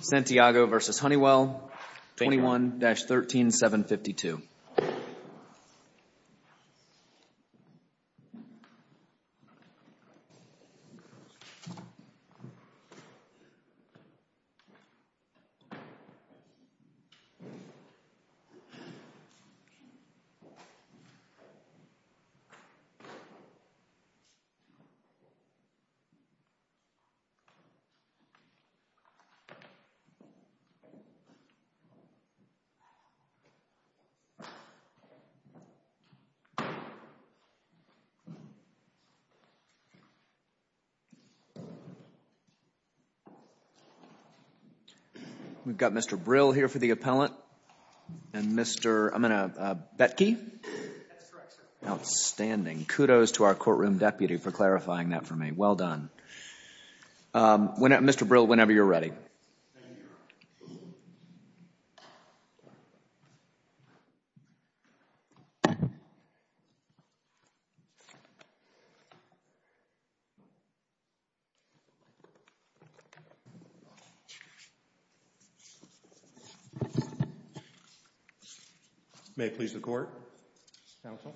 Santiago v. Honeywell, 21-13752. We've got Mr. Brill here for the appellant, and Mr. I'm going to—Betke? That's correct, sir. Outstanding. Kudos to our courtroom deputy for clarifying that for me. Well done. Mr. Brill, whenever you're ready. Thank you, Your Honor. May it please the Court? Counsel?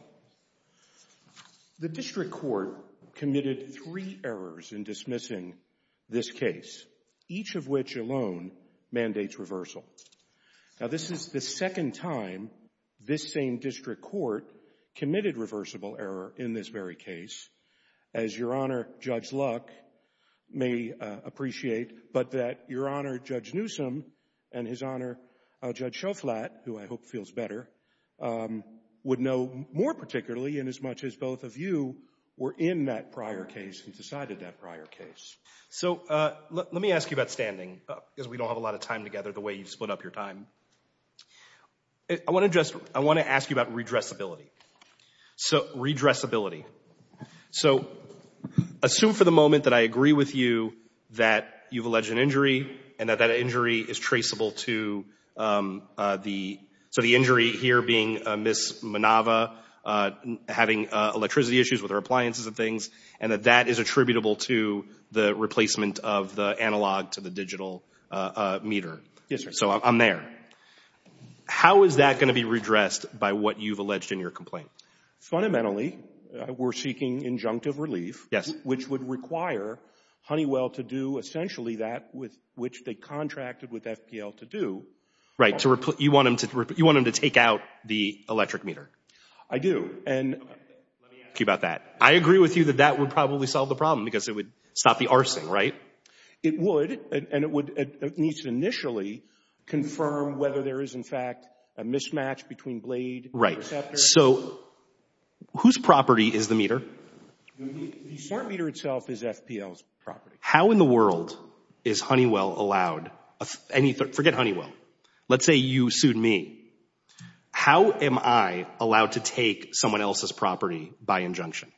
The district court committed three errors in dismissing this case, each of which alone mandates reversal. Now, this is the second time this same district court committed reversible error in this very case, as Your Honor, Judge Luck, may appreciate, but that Your Honor, Judge Newsom, and His Honor particularly, and as much as both of you, were in that prior case and decided that prior case. So, let me ask you about standing, because we don't have a lot of time together, the way you split up your time. I want to just—I want to ask you about redressability. So, redressability. So, assume for the moment that I agree with you that you've alleged an injury and that that injury is traceable to the—so, the injury here being Ms. Minava having electricity issues with her appliances and things, and that that is attributable to the replacement of the analog to the digital meter. Yes, sir. So, I'm there. How is that going to be redressed by what you've alleged in your complaint? Fundamentally, we're seeking injunctive relief. Yes. Which would require Honeywell to do essentially that which they contracted with FPL to do. Right. You want them to take out the electric meter. I do. Okay. Let me ask you about that. I agree with you that that would probably solve the problem, because it would stop the arcing, It would, and it needs to initially confirm whether there is, in fact, a mismatch between blade and receptor. Right. So, whose property is the meter? The smart meter itself is FPL's property. How in the world is Honeywell allowed—forget Honeywell. Let's say you sued me. How am I allowed to take someone else's property by injunction?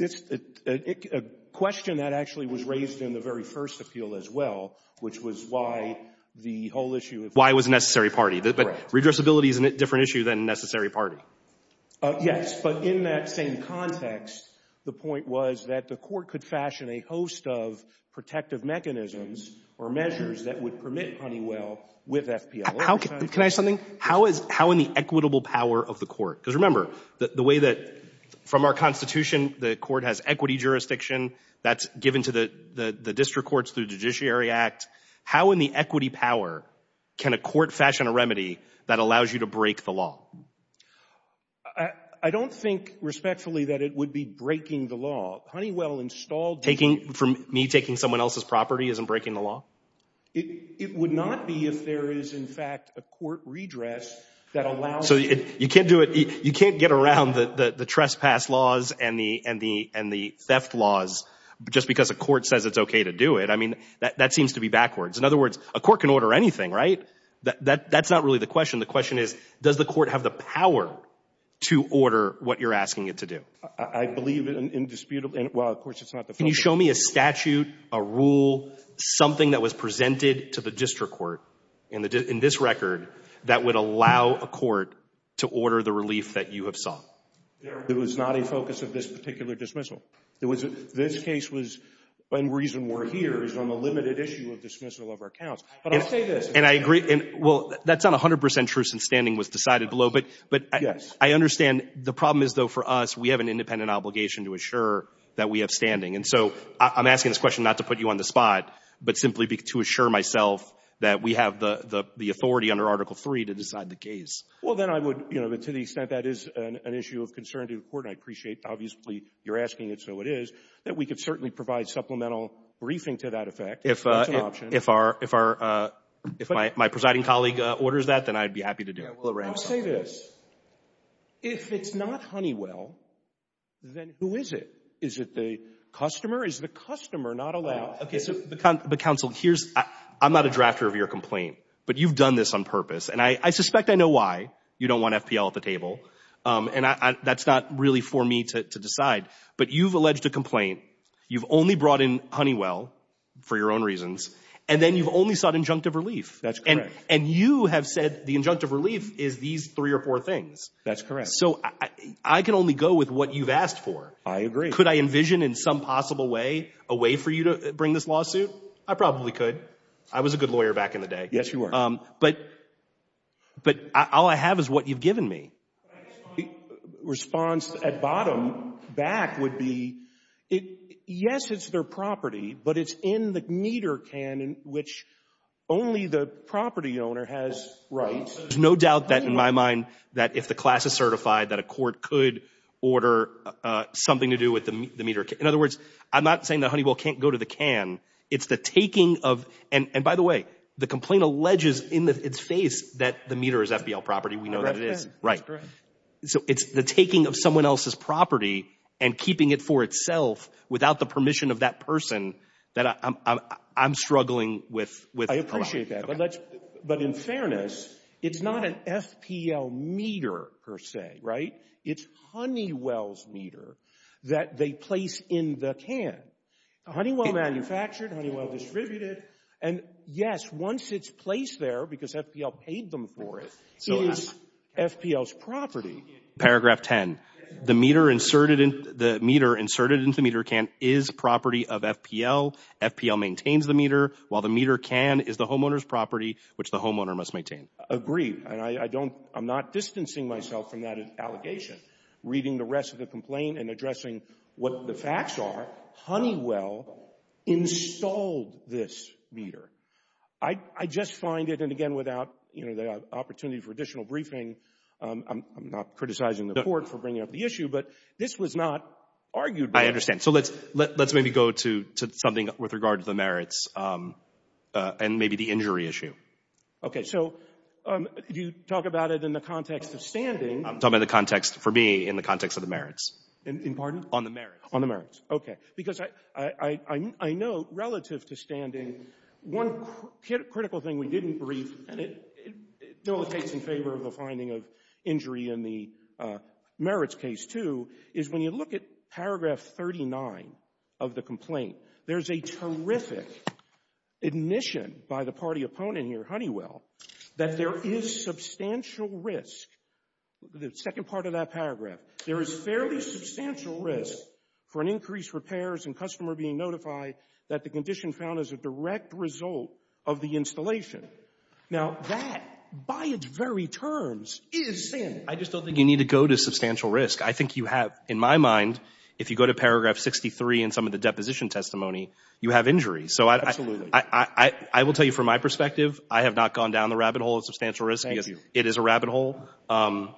A question that actually was raised in the very first appeal as well, which was why the whole issue of— Why it was a necessary party. But redressability is a different issue than necessary party. Yes, but in that same context, the point was that the court could fashion a host of protective mechanisms or measures that would permit Honeywell with FPL. Can I ask something? How in the equitable power of the court? Because remember, the way that from our Constitution, the court has equity jurisdiction. That's given to the district courts through the Judiciary Act. How in the equity power can a court fashion a remedy that allows you to break the law? I don't think respectfully that it would be breaking the law. Honeywell installed— Taking—for me taking someone else's property isn't breaking the law? It would not be if there is, in fact, a court redress that allows— So, you can't do it—you can't get around the trespass laws and the theft laws just because a court says it's okay to do it. I mean, that seems to be backwards. In other words, a court can order anything, right? That's not really the question. The question is, does the court have the power to order what you're asking it to do? I believe it indisputably—well, of course, it's not the first— Can you show me a statute, a rule, something that was presented to the district court in this record that would allow a court to order the relief that you have sought? There was not a focus of this particular dismissal. This case was—one reason we're here is on the limited issue of dismissal of our counts. But I'll say this— And I agree—well, that's not 100 percent true since standing was decided below. But I understand the problem is, though, for us, we have an independent obligation to assure that we have standing. And so I'm asking this question not to put you on the spot, but simply to assure myself that we have the authority under Article III to decide the case. Well, then I would—to the extent that is an issue of concern to the Court, and I appreciate obviously you're asking it so it is, that we could certainly provide supplemental briefing to that effect. That's an option. If our—if my presiding colleague orders that, then I'd be happy to do it. I'll say this. If it's not Honeywell, then who is it? Is it the customer? Is the customer not allowed— Okay. So, but, counsel, here's—I'm not a drafter of your complaint, but you've done this on purpose. And I suspect I know why. You don't want FPL at the table. And that's not really for me to decide. But you've alleged a complaint. You've only brought in Honeywell for your own reasons. And then you've only sought injunctive relief. That's correct. And you have said the injunctive relief is these three or four things. That's correct. So I can only go with what you've asked for. I agree. Could I envision in some possible way a way for you to bring this lawsuit? I probably could. I was a good lawyer back in the day. Yes, you were. But all I have is what you've given me. My response at bottom back would be, yes, it's their property, but it's in the meter can in which only the property owner has rights. There's no doubt that, in my mind, that if the class is certified, that a court could order something to do with the meter can. In other words, I'm not saying that Honeywell can't go to the can. It's the taking of—and, by the way, the complaint alleges in its face that the meter is FPL property. We know that it is. That's correct. Right. So it's the taking of someone else's property and keeping it for itself without the permission of that person that I'm struggling with a lot. I appreciate that. But in fairness, it's not an FPL meter, per se, right? It's Honeywell's meter that they place in the can. Honeywell manufactured. Honeywell distributed. And, yes, once it's placed there, because FPL paid them for it, it is FPL's property. Paragraph 10. The meter inserted into the meter can is property of FPL. FPL maintains the meter, while the meter can is the homeowner's property, which the homeowner must maintain. Agreed. And I don't — I'm not distancing myself from that allegation. Reading the rest of the complaint and addressing what the facts are, Honeywell installed this meter. I just find it — and, again, without the opportunity for additional briefing, I'm not criticizing the Court for bringing up the issue, but this was not argued by — I understand. So let's maybe go to something with regard to the merits and maybe the injury issue. Okay. So you talk about it in the context of standing. I'm talking about the context, for me, in the context of the merits. Pardon? On the merits. On the merits. Okay. Because I note, relative to standing, one critical thing we didn't brief, and it dictates in favor of the finding of injury in the merits case, too, is when you look at paragraph 39 of the complaint, there's a terrific admission by the party opponent here, Honeywell, that there is substantial risk. The second part of that paragraph. There is fairly substantial risk for an increased repairs and customer being notified that the condition found as a direct result of the installation. Now, that, by its very terms, is sin. I just don't think you need to go to substantial risk. I think you have, in my mind, if you go to paragraph 63 in some of the deposition testimony, you have injury. Absolutely. So I will tell you from my perspective, I have not gone down the rabbit hole of substantial risk. Thank you. It is a rabbit hole, and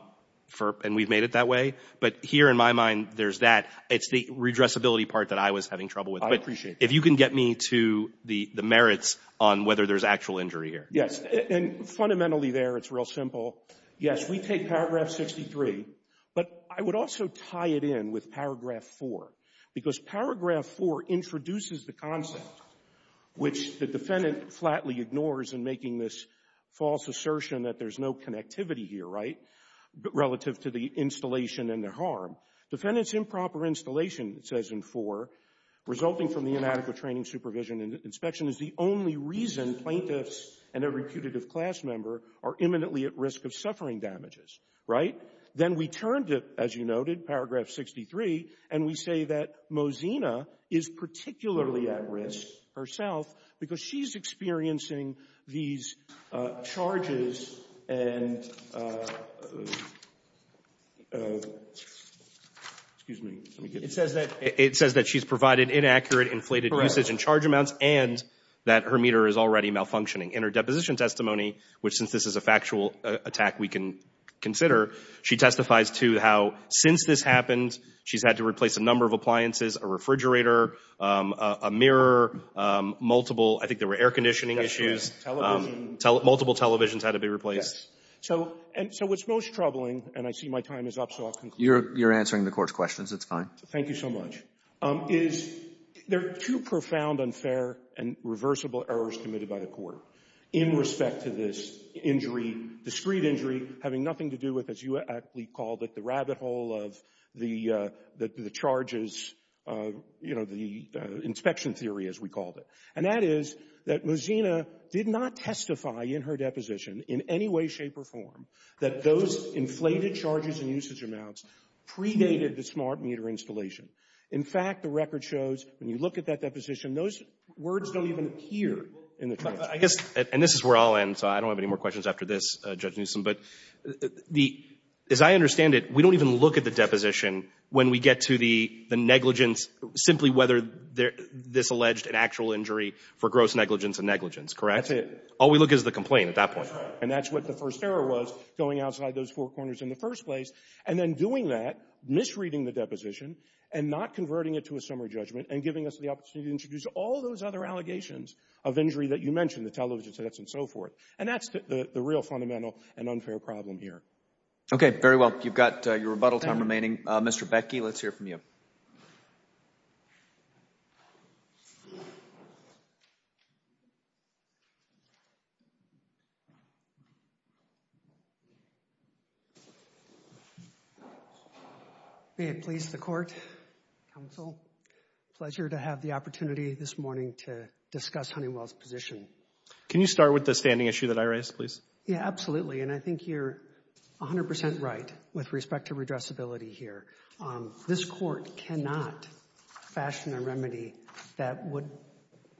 we've made it that way. But here in my mind, there's that. It's the redressability part that I was having trouble with. I appreciate that. But if you can get me to the merits on whether there's actual injury here. Yes. And fundamentally there, it's real simple. Yes, we take paragraph 63, but I would also tie it in with paragraph 4, because paragraph 4 introduces the concept which the defendant flatly ignores in making this false assertion that there's no connectivity here, right, relative to the installation and the harm. Defendant's improper installation, it says in 4, resulting from the inadequate training, supervision, and inspection is the only reason plaintiffs and every putative class member are imminently at risk of suffering damages. Right? Then we turn to, as you noted, paragraph 63, and we say that Mosina is particularly at risk herself because she's experiencing these charges and, excuse me. It says that she's provided inaccurate inflated usage and charge amounts and that her meter is already malfunctioning. In her deposition testimony, which since this is a factual attack we can consider, she testifies to how since this happened, she's had to replace a number of appliances, a refrigerator, a mirror, multiple, I think there were air conditioning issues. Multiple televisions had to be replaced. So what's most troubling, and I see my time is up, so I'll conclude. You're answering the Court's questions. It's fine. Thank you so much. Is there too profound, unfair, and reversible errors committed by the Court in respect to this injury, discrete injury, having nothing to do with, as you aptly called it, the rabbit hole of the charges, you know, the inspection theory, as we called it? And that is that Mosina did not testify in her deposition in any way, shape, or form that those inflated charges and usage amounts predated the smart meter installation. In fact, the record shows when you look at that deposition, those words don't even appear in the charge. I guess, and this is where I'll end, so I don't have any more questions after this, but as I understand it, we don't even look at the deposition when we get to the negligence, simply whether this alleged an actual injury for gross negligence and negligence, correct? That's it. All we look at is the complaint at that point. That's right. And that's what the first error was, going outside those four corners in the first place, and then doing that, misreading the deposition, and not converting it to a summary judgment, and giving us the opportunity to introduce all those other allegations of injury that you mentioned, the television sets and so forth. And that's the real fundamental and unfair problem here. Okay, very well. You've got your rebuttal time remaining. Mr. Becke, let's hear from you. May it please the Court, Counsel, pleasure to have the opportunity this morning to discuss Honeywell's position. Can you start with the standing issue that I raised, please? Yeah, absolutely, and I think you're 100 percent right with respect to redressability here. This Court cannot fashion a remedy that would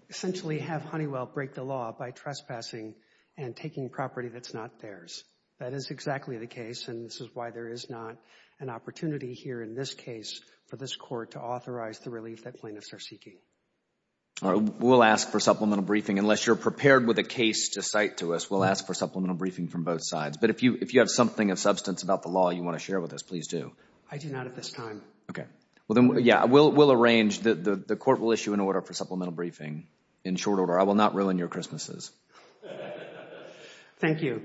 essentially have Honeywell break the law by trespassing and taking property that's not theirs. That is exactly the case, and this is why there is not an opportunity here in this case for this Court to authorize the relief that plaintiffs are seeking. We'll ask for supplemental briefing. Unless you're prepared with a case to cite to us, we'll ask for supplemental briefing from both sides. But if you have something of substance about the law you want to share with us, please do. I do not at this time. Okay. Well, then, yeah, we'll arrange. The Court will issue an order for supplemental briefing in short order. I will not ruin your Christmases. Thank you.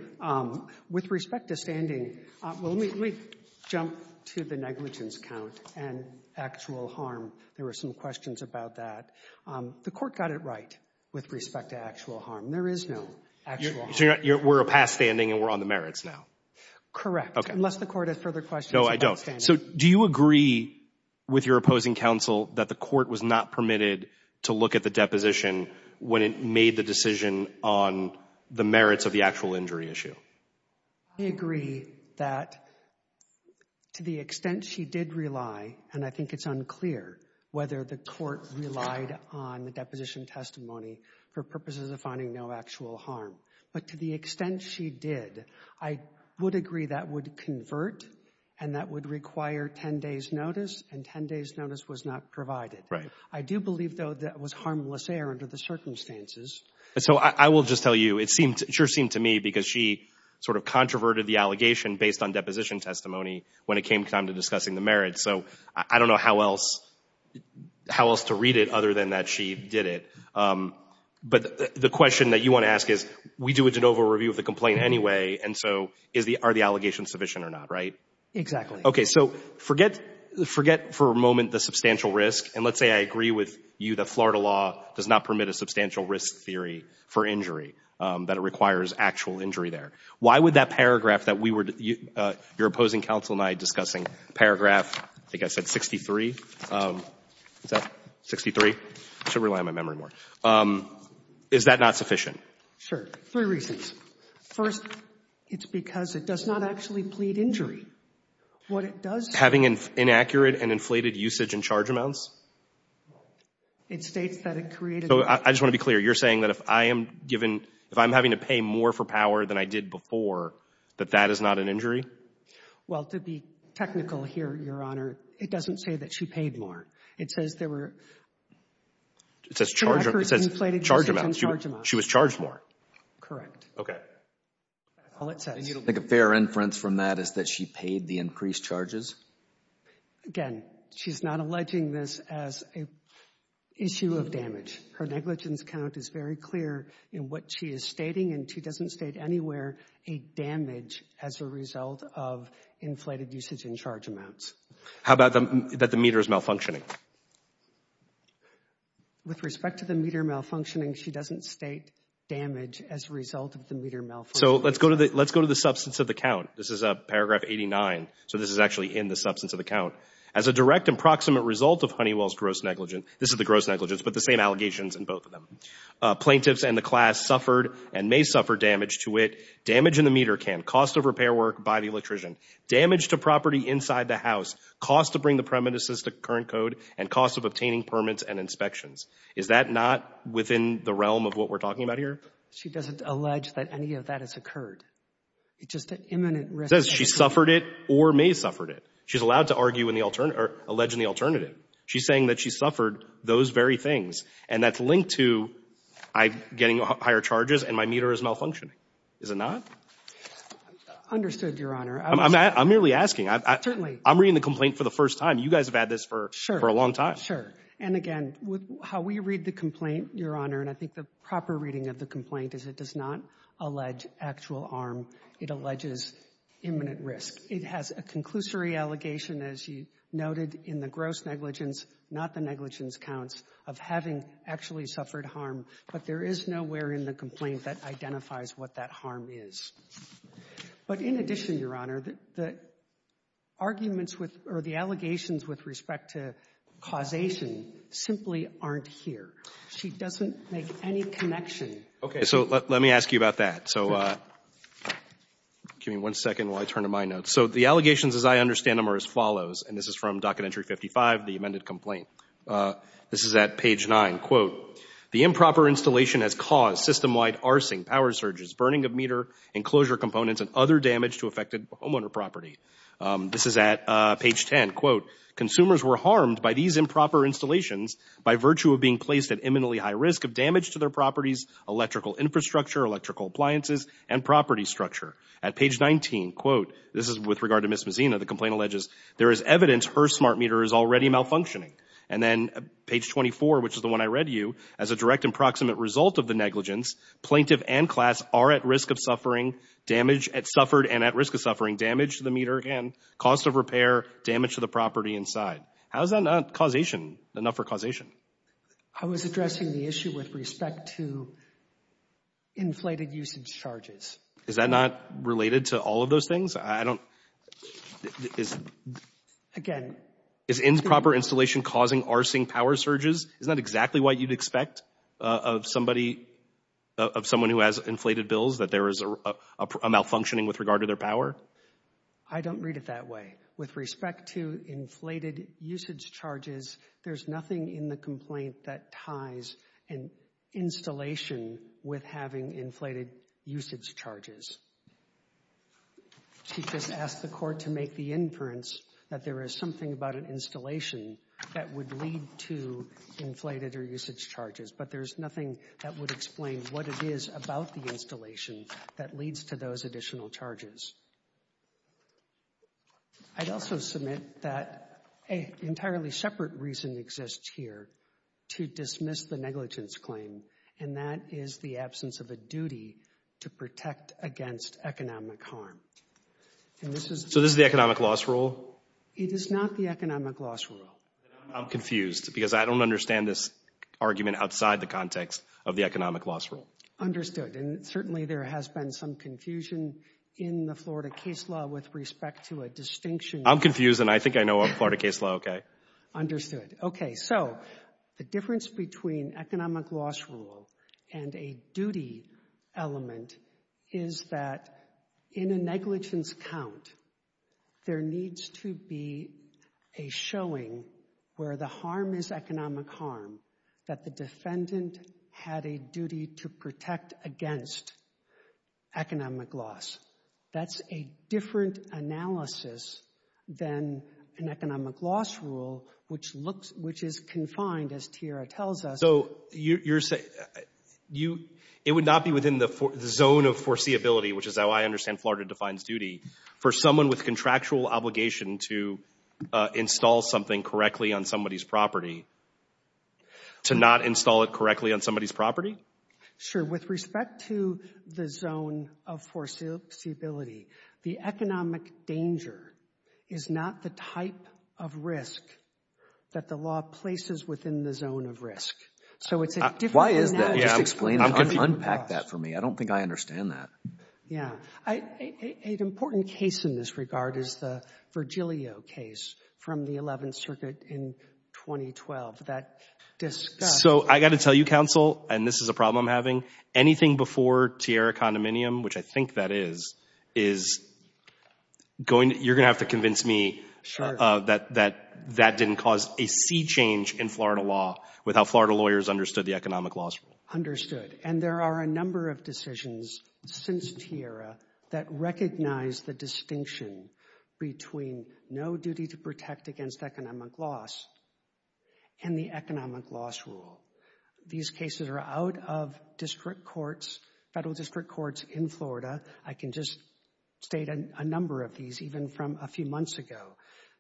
With respect to standing, let me jump to the negligence count and actual harm. There were some questions about that. The Court got it right with respect to actual harm. There is no actual harm. So we're past standing and we're on the merits now? Correct, unless the Court has further questions about standing. No, I don't. So do you agree with your opposing counsel that the Court was not permitted to look at the deposition when it made the decision on the merits of the actual injury issue? I agree that to the extent she did rely, and I think it's unclear whether the Court relied on the deposition testimony for purposes of finding no actual harm. But to the extent she did, I would agree that would convert and that would require 10 days' notice, and 10 days' notice was not provided. Right. I do believe, though, that it was harmless error under the circumstances. And so I will just tell you, it sure seemed to me because she sort of controverted the allegation based on deposition testimony when it came time to discussing the merits. So I don't know how else to read it other than that she did it. But the question that you want to ask is, we do a de novo review of the complaint anyway, and so are the allegations sufficient or not, right? Exactly. Okay, so forget for a moment the substantial risk, and let's say I agree with you that Florida law does not permit a substantial risk theory for injury, that it requires actual injury there. Why would that paragraph that we were — your opposing counsel and I discussing, paragraph, I think I said 63. Is that 63? I should rely on my memory more. Is that not sufficient? Sure. Three reasons. First, it's because it does not actually plead injury. What it does — Having inaccurate and inflated usage and charge amounts? It states that it created — So I just want to be clear. You're saying that if I am given — if I'm having to pay more for power than I did before, that that is not an injury? Well, to be technical here, Your Honor, it doesn't say that she paid more. It says there were — It says charge — Inflated usage and charge amounts. It says charge amounts. She was charged more. Correct. Okay. All it says. I think a fair inference from that is that she paid the increased charges. Again, she's not alleging this as an issue of damage. Her negligence count is very clear in what she is stating, and she doesn't state anywhere a damage as a result of inflated usage and charge amounts. How about that the meter is malfunctioning? With respect to the meter malfunctioning, she doesn't state damage as a result of the meter malfunctioning. So let's go to the substance of the count. This is paragraph 89. So this is actually in the substance of the count. As a direct and proximate result of Honeywell's gross negligence — this is the gross negligence, but the same allegations in both of them — plaintiffs and the class suffered and may suffer damage to it. Damage in the meter can, cost of repair work by the electrician, damage to property inside the house, cost to bring the premises to current code, and cost of obtaining permits and inspections. Is that not within the realm of what we're talking about here? She doesn't allege that any of that has occurred. It's just an imminent risk. It says she suffered it or may have suffered it. She's allowed to argue in the alternative — or allege in the alternative. She's saying that she suffered those very things, and that's linked to getting higher charges and my meter is malfunctioning. Is it not? Understood, Your Honor. I'm merely asking. Certainly. I'm reading the complaint for the first time. You guys have had this for a long time. Sure. And again, how we read the complaint, Your Honor, and I think the proper reading of the complaint is it does not allege actual harm. It alleges imminent risk. It has a conclusory allegation, as you noted, in the gross negligence, not the negligence counts, of having actually suffered harm. But there is nowhere in the complaint that identifies what that harm is. But in addition, Your Honor, the arguments with — or the allegations with respect to causation simply aren't here. She doesn't make any connection. Okay. So let me ask you about that. So give me one second while I turn to my notes. So the allegations as I understand them are as follows, and this is from Docket Entry 55, the amended complaint. This is at page 9. Quote, the improper installation has caused system-wide arcing, power surges, burning of meter, enclosure components, and other damage to affected homeowner property. This is at page 10. Quote, consumers were harmed by these improper installations by virtue of being placed at imminently high risk of damage to their properties, electrical infrastructure, electrical appliances, and property structure. At page 19, quote — this is with regard to Ms. Mazzina, the complaint alleges there is evidence her smart meter is already malfunctioning. And then page 24, which is the one I read to you, as a direct and proximate result of the negligence, plaintiff and class are at risk of suffering damage — suffered and at risk of suffering damage to the meter and cost of repair, damage to the property inside. How is that not causation? Enough for causation. I was addressing the issue with respect to inflated usage charges. Is that not related to all of those things? I don't — is — Again — Is improper installation causing arcing, power surges? Isn't that exactly what you'd expect of somebody — of someone who has inflated bills, that there is a malfunctioning with regard to their power? I don't read it that way. With respect to inflated usage charges, there's nothing in the complaint that ties an installation with having inflated usage charges. She just asked the court to make the inference that there is something about an installation that would lead to inflated or usage charges, but there's nothing that would explain what it is about the installation that leads to those additional charges. I'd also submit that an entirely separate reason exists here to dismiss the negligence claim, and that is the absence of a duty to protect against economic harm. And this is — So this is the economic loss rule? It is not the economic loss rule. I'm confused because I don't understand this argument outside the context of the economic loss rule. Understood. And certainly there has been some confusion in the Florida case law with respect to a distinction — I'm confused, and I think I know a Florida case law okay. Understood. Okay. So the difference between economic loss rule and a duty element is that in a negligence count, there needs to be a showing where the harm is economic harm, that the defendant had a duty to protect against economic loss. That's a different analysis than an economic loss rule, which looks — which is confined, as Tiara tells us. So you're saying — it would not be within the zone of foreseeability, which is how I understand Florida defines duty, for someone with contractual obligation to install something correctly on somebody's property, to not install it correctly on somebody's property? Sure. With respect to the zone of foreseeability, the economic danger is not the type of risk that the law places within the zone of risk. So it's a different — Why is that? Just explain it. Unpack that for me. I don't think I understand that. Yeah. An important case in this regard is the Virgilio case from the Eleventh Circuit in 2012 that discussed — So I've got to tell you, counsel, and this is a problem I'm having, anything before Tiara condominium, which I think that is, is going — you're going to have to convince me that that didn't cause a sea change in Florida law with how Florida lawyers understood the economic loss rule. Understood. And there are a number of decisions since Tiara that recognize the distinction between no duty to protect against economic loss and the economic loss rule. These cases are out of district courts, federal district courts in Florida. I can just state a number of these, even from a few months ago.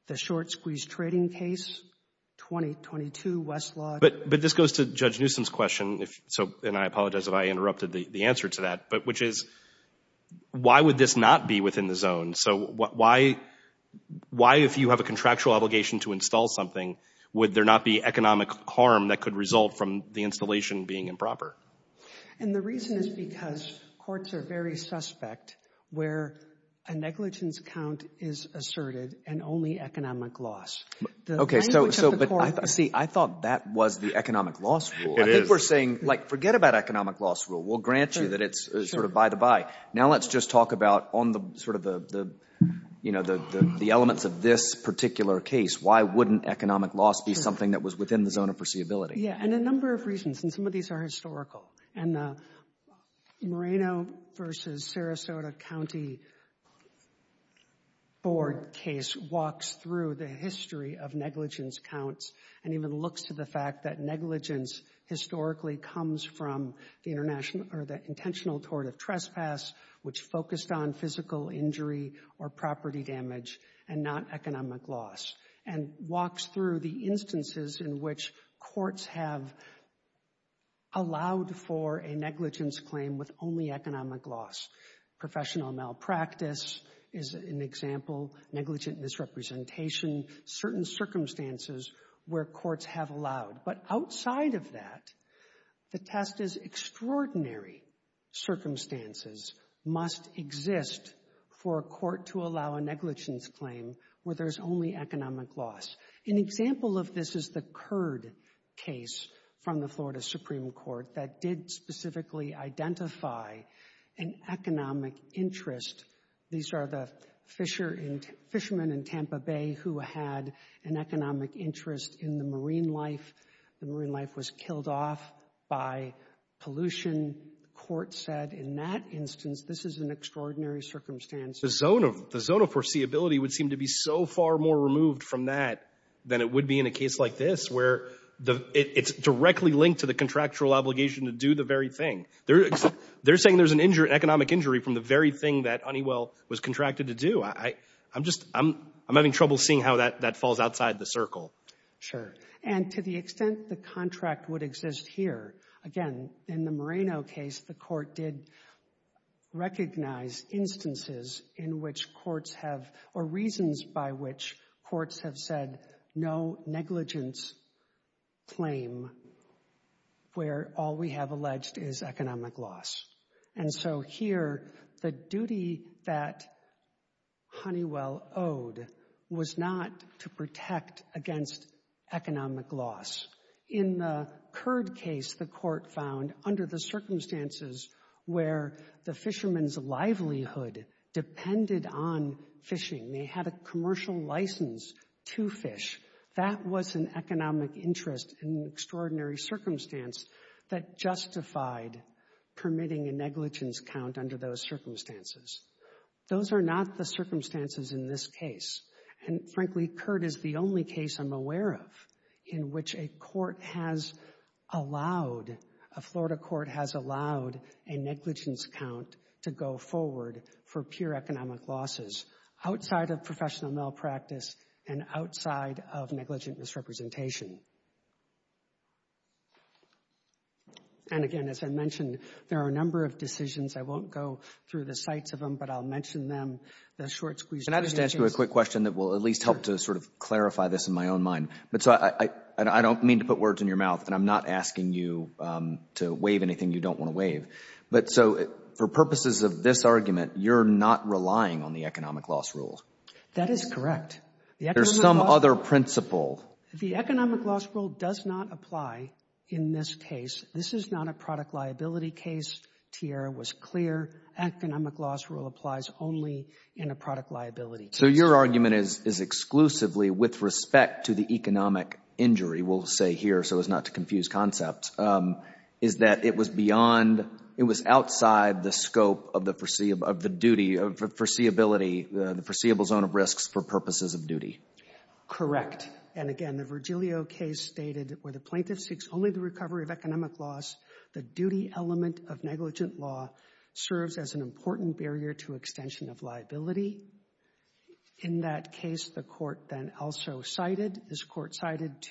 The short squeeze trading case, 2022 Westlaw — But this goes to Judge Newsom's question, and I apologize if I interrupted the answer to that, which is, why would this not be within the zone? So why, if you have a contractual obligation to install something, would there not be economic harm that could result from the installation being improper? And the reason is because courts are very suspect where a negligence count is asserted and only economic loss. Okay, so, but see, I thought that was the economic loss rule. It is. I think we're saying, like, forget about economic loss rule. We'll grant you that it's sort of by the by. Now let's just talk about on the sort of the, you know, the elements of this particular case. Why wouldn't economic loss be something that was within the zone of foreseeability? Yeah, and a number of reasons, and some of these are historical. And the Moreno v. Sarasota County Board case walks through the history of negligence counts and even looks to the fact that negligence historically comes from the intentional tort of trespass, which focused on physical injury or property damage and not economic loss, and walks through the instances in which courts have allowed for a negligence claim with only economic loss. Professional malpractice is an example, negligent misrepresentation, certain circumstances where courts have allowed. But outside of that, the test is extraordinary circumstances must exist for a court to allow a negligence claim where there's only economic loss. An example of this is the Curd case from the Florida Supreme Court that did specifically identify an economic interest. These are the fishermen in Tampa Bay who had an economic interest in the marine life. The marine life was killed off by pollution. The court said in that instance, this is an extraordinary circumstance. The zone of foreseeability would seem to be so far more removed from that than it would be in a case like this where it's directly linked to the contractual obligation to do the very thing. They're saying there's an economic injury from the very thing that Honeywell was contracted to do. I'm having trouble seeing how that falls outside the circle. Sure. And to the extent the contract would exist here, again, in the Moreno case, the court did recognize instances in which courts have, or reasons by which courts have said no negligence claim where all we have alleged is economic loss. And so here, the duty that Honeywell owed was not to protect against economic loss. In the Curd case, the court found under the circumstances where the fishermen's livelihood depended on fishing, they had a commercial license to fish, that was an economic interest in an extraordinary circumstance that justified permitting a negligence count under those circumstances. Those are not the circumstances in this case. And frankly, Curd is the only case I'm aware of in which a court has allowed, a Florida court has allowed a negligence count to go forward for pure economic losses outside of professional malpractice and outside of negligent misrepresentation. And again, as I mentioned, there are a number of decisions. I won't go through the sites of them, but I'll mention them. Can I just ask you a quick question that will at least help to sort of clarify this in my own mind? I don't mean to put words in your mouth, and I'm not asking you to waive anything you don't want to waive. But so for purposes of this argument, you're not relying on the economic loss rule. That is correct. There's some other principle. The economic loss rule does not apply in this case. This is not a product liability case. Tiara was clear. Economic loss rule applies only in a product liability case. So your argument is exclusively with respect to the economic injury, we'll say here so as not to confuse concepts, is that it was outside the scope of the foreseeability, the foreseeable zone of risks for purposes of duty. Correct. And again, the Virgilio case stated where the plaintiff seeks only the recovery of economic loss, the duty element of negligent law serves as an important barrier to extension of liability. In that case, the court then also cited,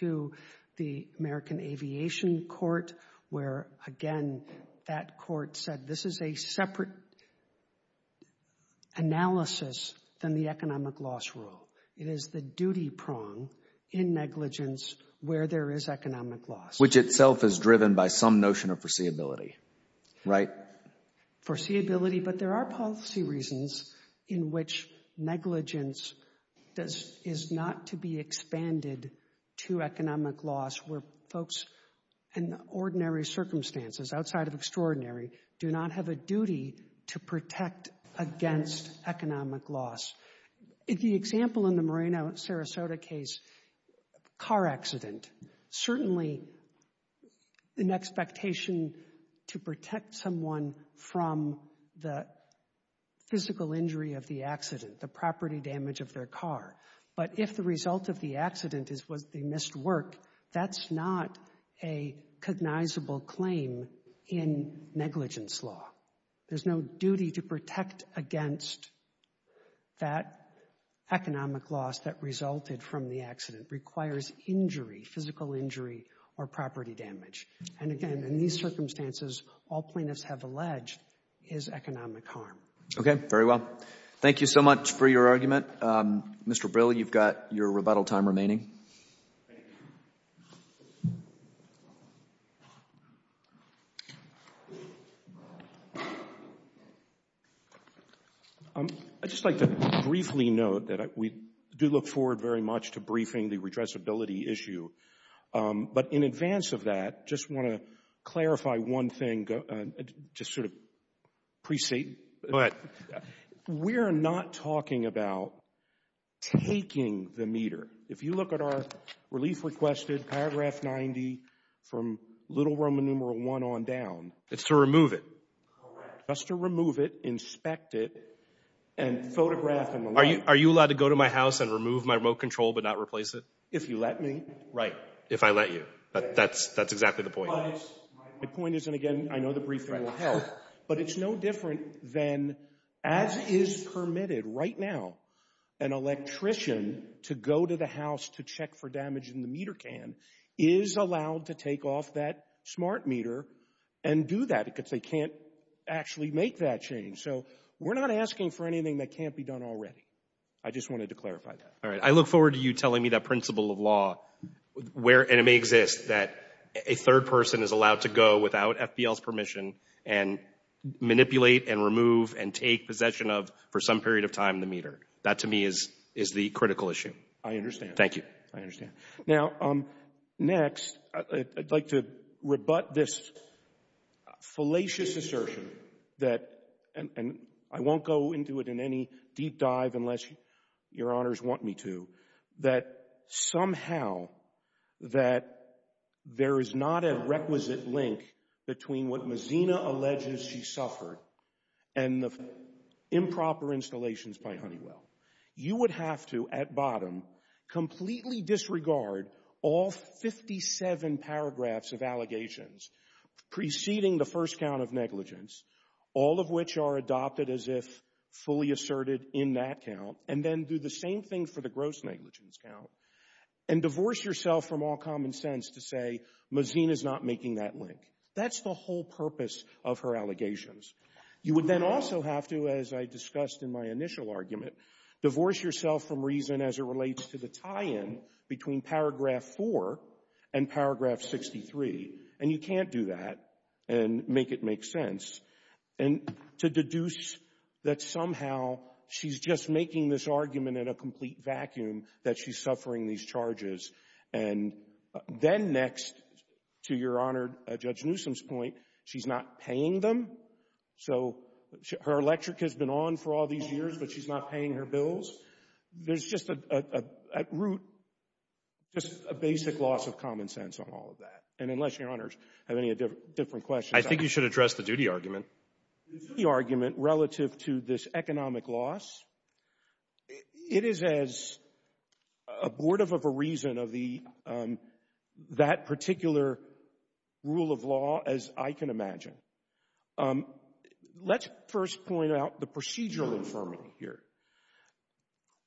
to the American Aviation Court where, again, that court said, this is a separate analysis than the economic loss rule. It is the duty prong in negligence where there is economic loss. Which itself is driven by some notion of foreseeability, right? Foreseeability, but there are policy reasons in which negligence is not to be expanded to economic loss where folks in ordinary circumstances, outside of extraordinary, do not have a duty to protect against economic loss. The example in the Moreno, Sarasota case, car accident, certainly an expectation to protect someone from the physical injury of the accident, the property damage of their car. But if the result of the accident is they missed work, that's not a cognizable claim in negligence law. There's no duty to protect against that economic loss that resulted from the accident. It requires injury, physical injury or property damage. And again, in these circumstances, all plaintiffs have alleged is economic harm. Okay, very well. Thank you so much for your argument. Mr. Brill, you've got your rebuttal time remaining. I'd just like to briefly note that we do look forward very much to briefing the redressability issue. But in advance of that, just want to clarify one thing. Just sort of pre-state. Go ahead. We're not talking about taking the meter. If you look at our relief requested, paragraph 90 from little Roman numeral 1 on down. It's to remove it. Correct. Just to remove it, inspect it, and photograph. Are you allowed to go to my house and remove my remote control but not replace it? If you let me. Right, if I let you. That's exactly the point. My point is, and again, I know the briefing will help, but it's no different than, as is permitted right now, an electrician to go to the house to check for damage in the meter can is allowed to take off that smart meter and do that because they can't actually make that change. So we're not asking for anything that can't be done already. I just wanted to clarify that. All right. I look forward to you telling me that principle of law, and it may exist, that a third person is allowed to go without FBL's permission and manipulate and remove and take possession of, for some period of time, the meter. That, to me, is the critical issue. I understand. Thank you. I understand. Now, next, I'd like to rebut this fallacious assertion that, and I won't go into it in any deep dive unless Your Honors want me to, that somehow that there is not a requisite link between what Mazina alleges she suffered and the improper installations by Honeywell. You would have to, at bottom, completely disregard all 57 paragraphs of allegations preceding the first count of negligence, all of which are adopted as if fully asserted in that count, and then do the same thing for the gross negligence count and divorce yourself from all common sense to say Mazina's not making that link. That's the whole purpose of her allegations. You would then also have to, as I discussed in my initial argument, divorce yourself from reason as it relates to the tie-in between paragraph 4 and paragraph 63, and you can't do that and make it make sense, and to deduce that somehow she's just making this argument in a complete vacuum that she's suffering these charges. And then next to Your Honor, Judge Newsom's point, she's not paying them. So her electric has been on for all these years, but she's not paying her bills. There's just at root just a basic loss of common sense on all of that. And unless Your Honors have any different questions. I think you should address the duty argument. The duty argument relative to this economic loss, it is as abortive of a reason of that particular rule of law as I can imagine. Let's first point out the procedural infirmity here.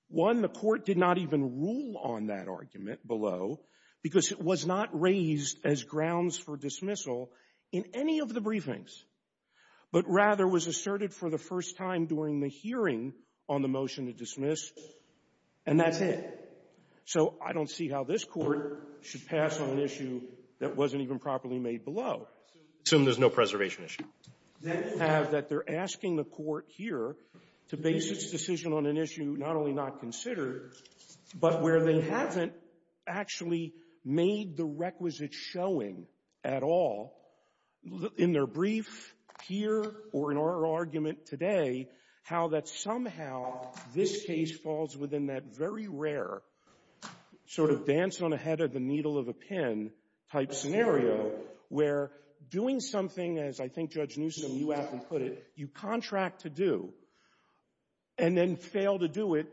One, the Court did not even rule on that argument below because it was not raised as grounds for dismissal in any of the briefings, but rather was asserted for the first time during the hearing on the motion to dismiss, and that's it. So I don't see how this Court should pass on an issue that wasn't even properly made below. Assume there's no preservation issue. Then have that they're asking the Court here to base its decision on an issue not only not considered, but where they haven't actually made the requisite showing at all in their brief here or in our argument today how that somehow this case falls within that very rare sort of dance on the head of the needle of a pen type scenario where doing something, as I think Judge Newsom, you aptly put it, you contract to do, and then fail to do it.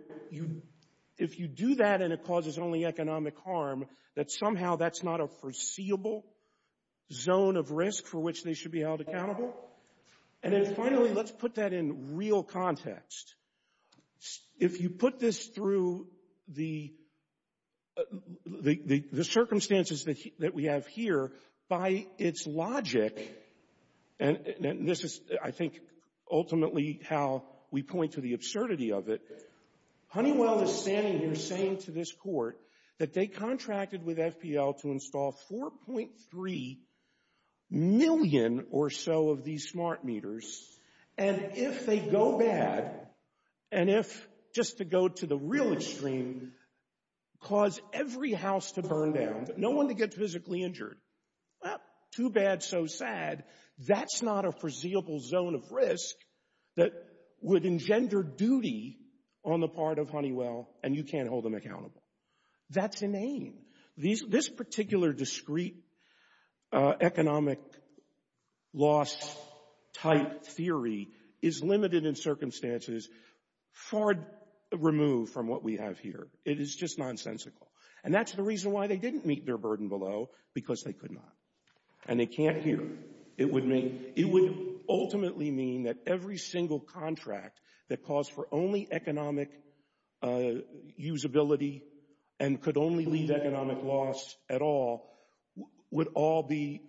If you do that and it causes only economic harm, that somehow that's not a foreseeable zone of risk for which they should be held accountable? And then finally, let's put that in real context. If you put this through the circumstances that we have here, by its logic, and this is, I think, ultimately how we point to the absurdity of it, Honeywell is standing here saying to this Court that they contracted with FPL to install 4.3 million or so of these smart meters, and if they go bad, and if, just to go to the real extreme, cause every house to burn down, but no one to get physically injured, well, too bad, so sad. That's not a foreseeable zone of risk that would engender duty on the part of Honeywell, and you can't hold them accountable. That's inane. This particular discrete economic loss-type theory is limited in circumstances far removed from what we have here. It is just nonsensical. And that's the reason why they didn't meet their burden below, because they could not, and they can't here. It would ultimately mean that every single contract that caused for only economic usability and could only leave economic loss at all would all be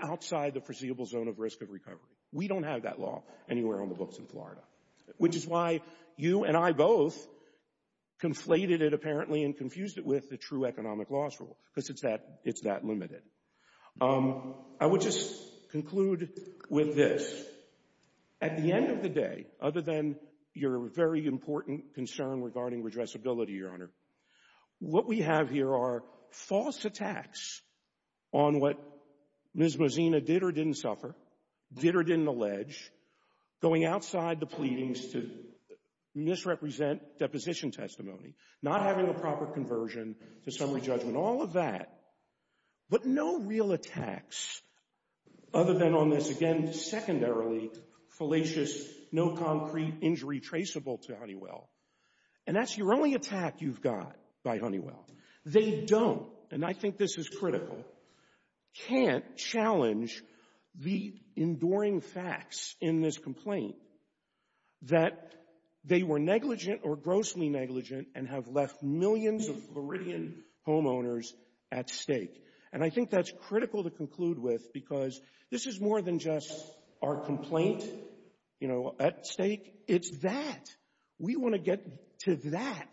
outside the foreseeable zone of risk of recovery. We don't have that law anywhere on the books in Florida, which is why you and I both conflated it apparently and confused it with the true economic loss rule, because it's that limited. I would just conclude with this. At the end of the day, other than your very important concern regarding redressability, Your Honor, what we have here are false attacks on what Ms. Mozena did or didn't suffer, did or didn't allege, going outside the pleadings to misrepresent deposition testimony, not having a proper conversion to summary judgment, all of that, but no real attacks other than on this, again, secondarily fallacious, no concrete injury traceable to Honeywell. And that's your only attack you've got by Honeywell. They don't, and I think this is critical, can't challenge the enduring facts in this that are negligent or grossly negligent and have left millions of Floridian homeowners at stake. And I think that's critical to conclude with, because this is more than just our complaint at stake. It's that. We want to get to that,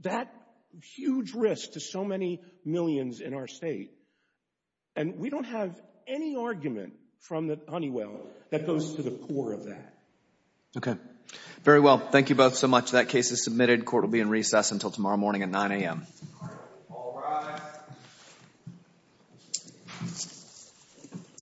that huge risk to so many millions in our state. And we don't have any argument from Honeywell that goes to the core of that. Okay. Very well. Thank you both so much. That case is submitted. Court will be in recess until tomorrow morning at 9 a.m. All rise.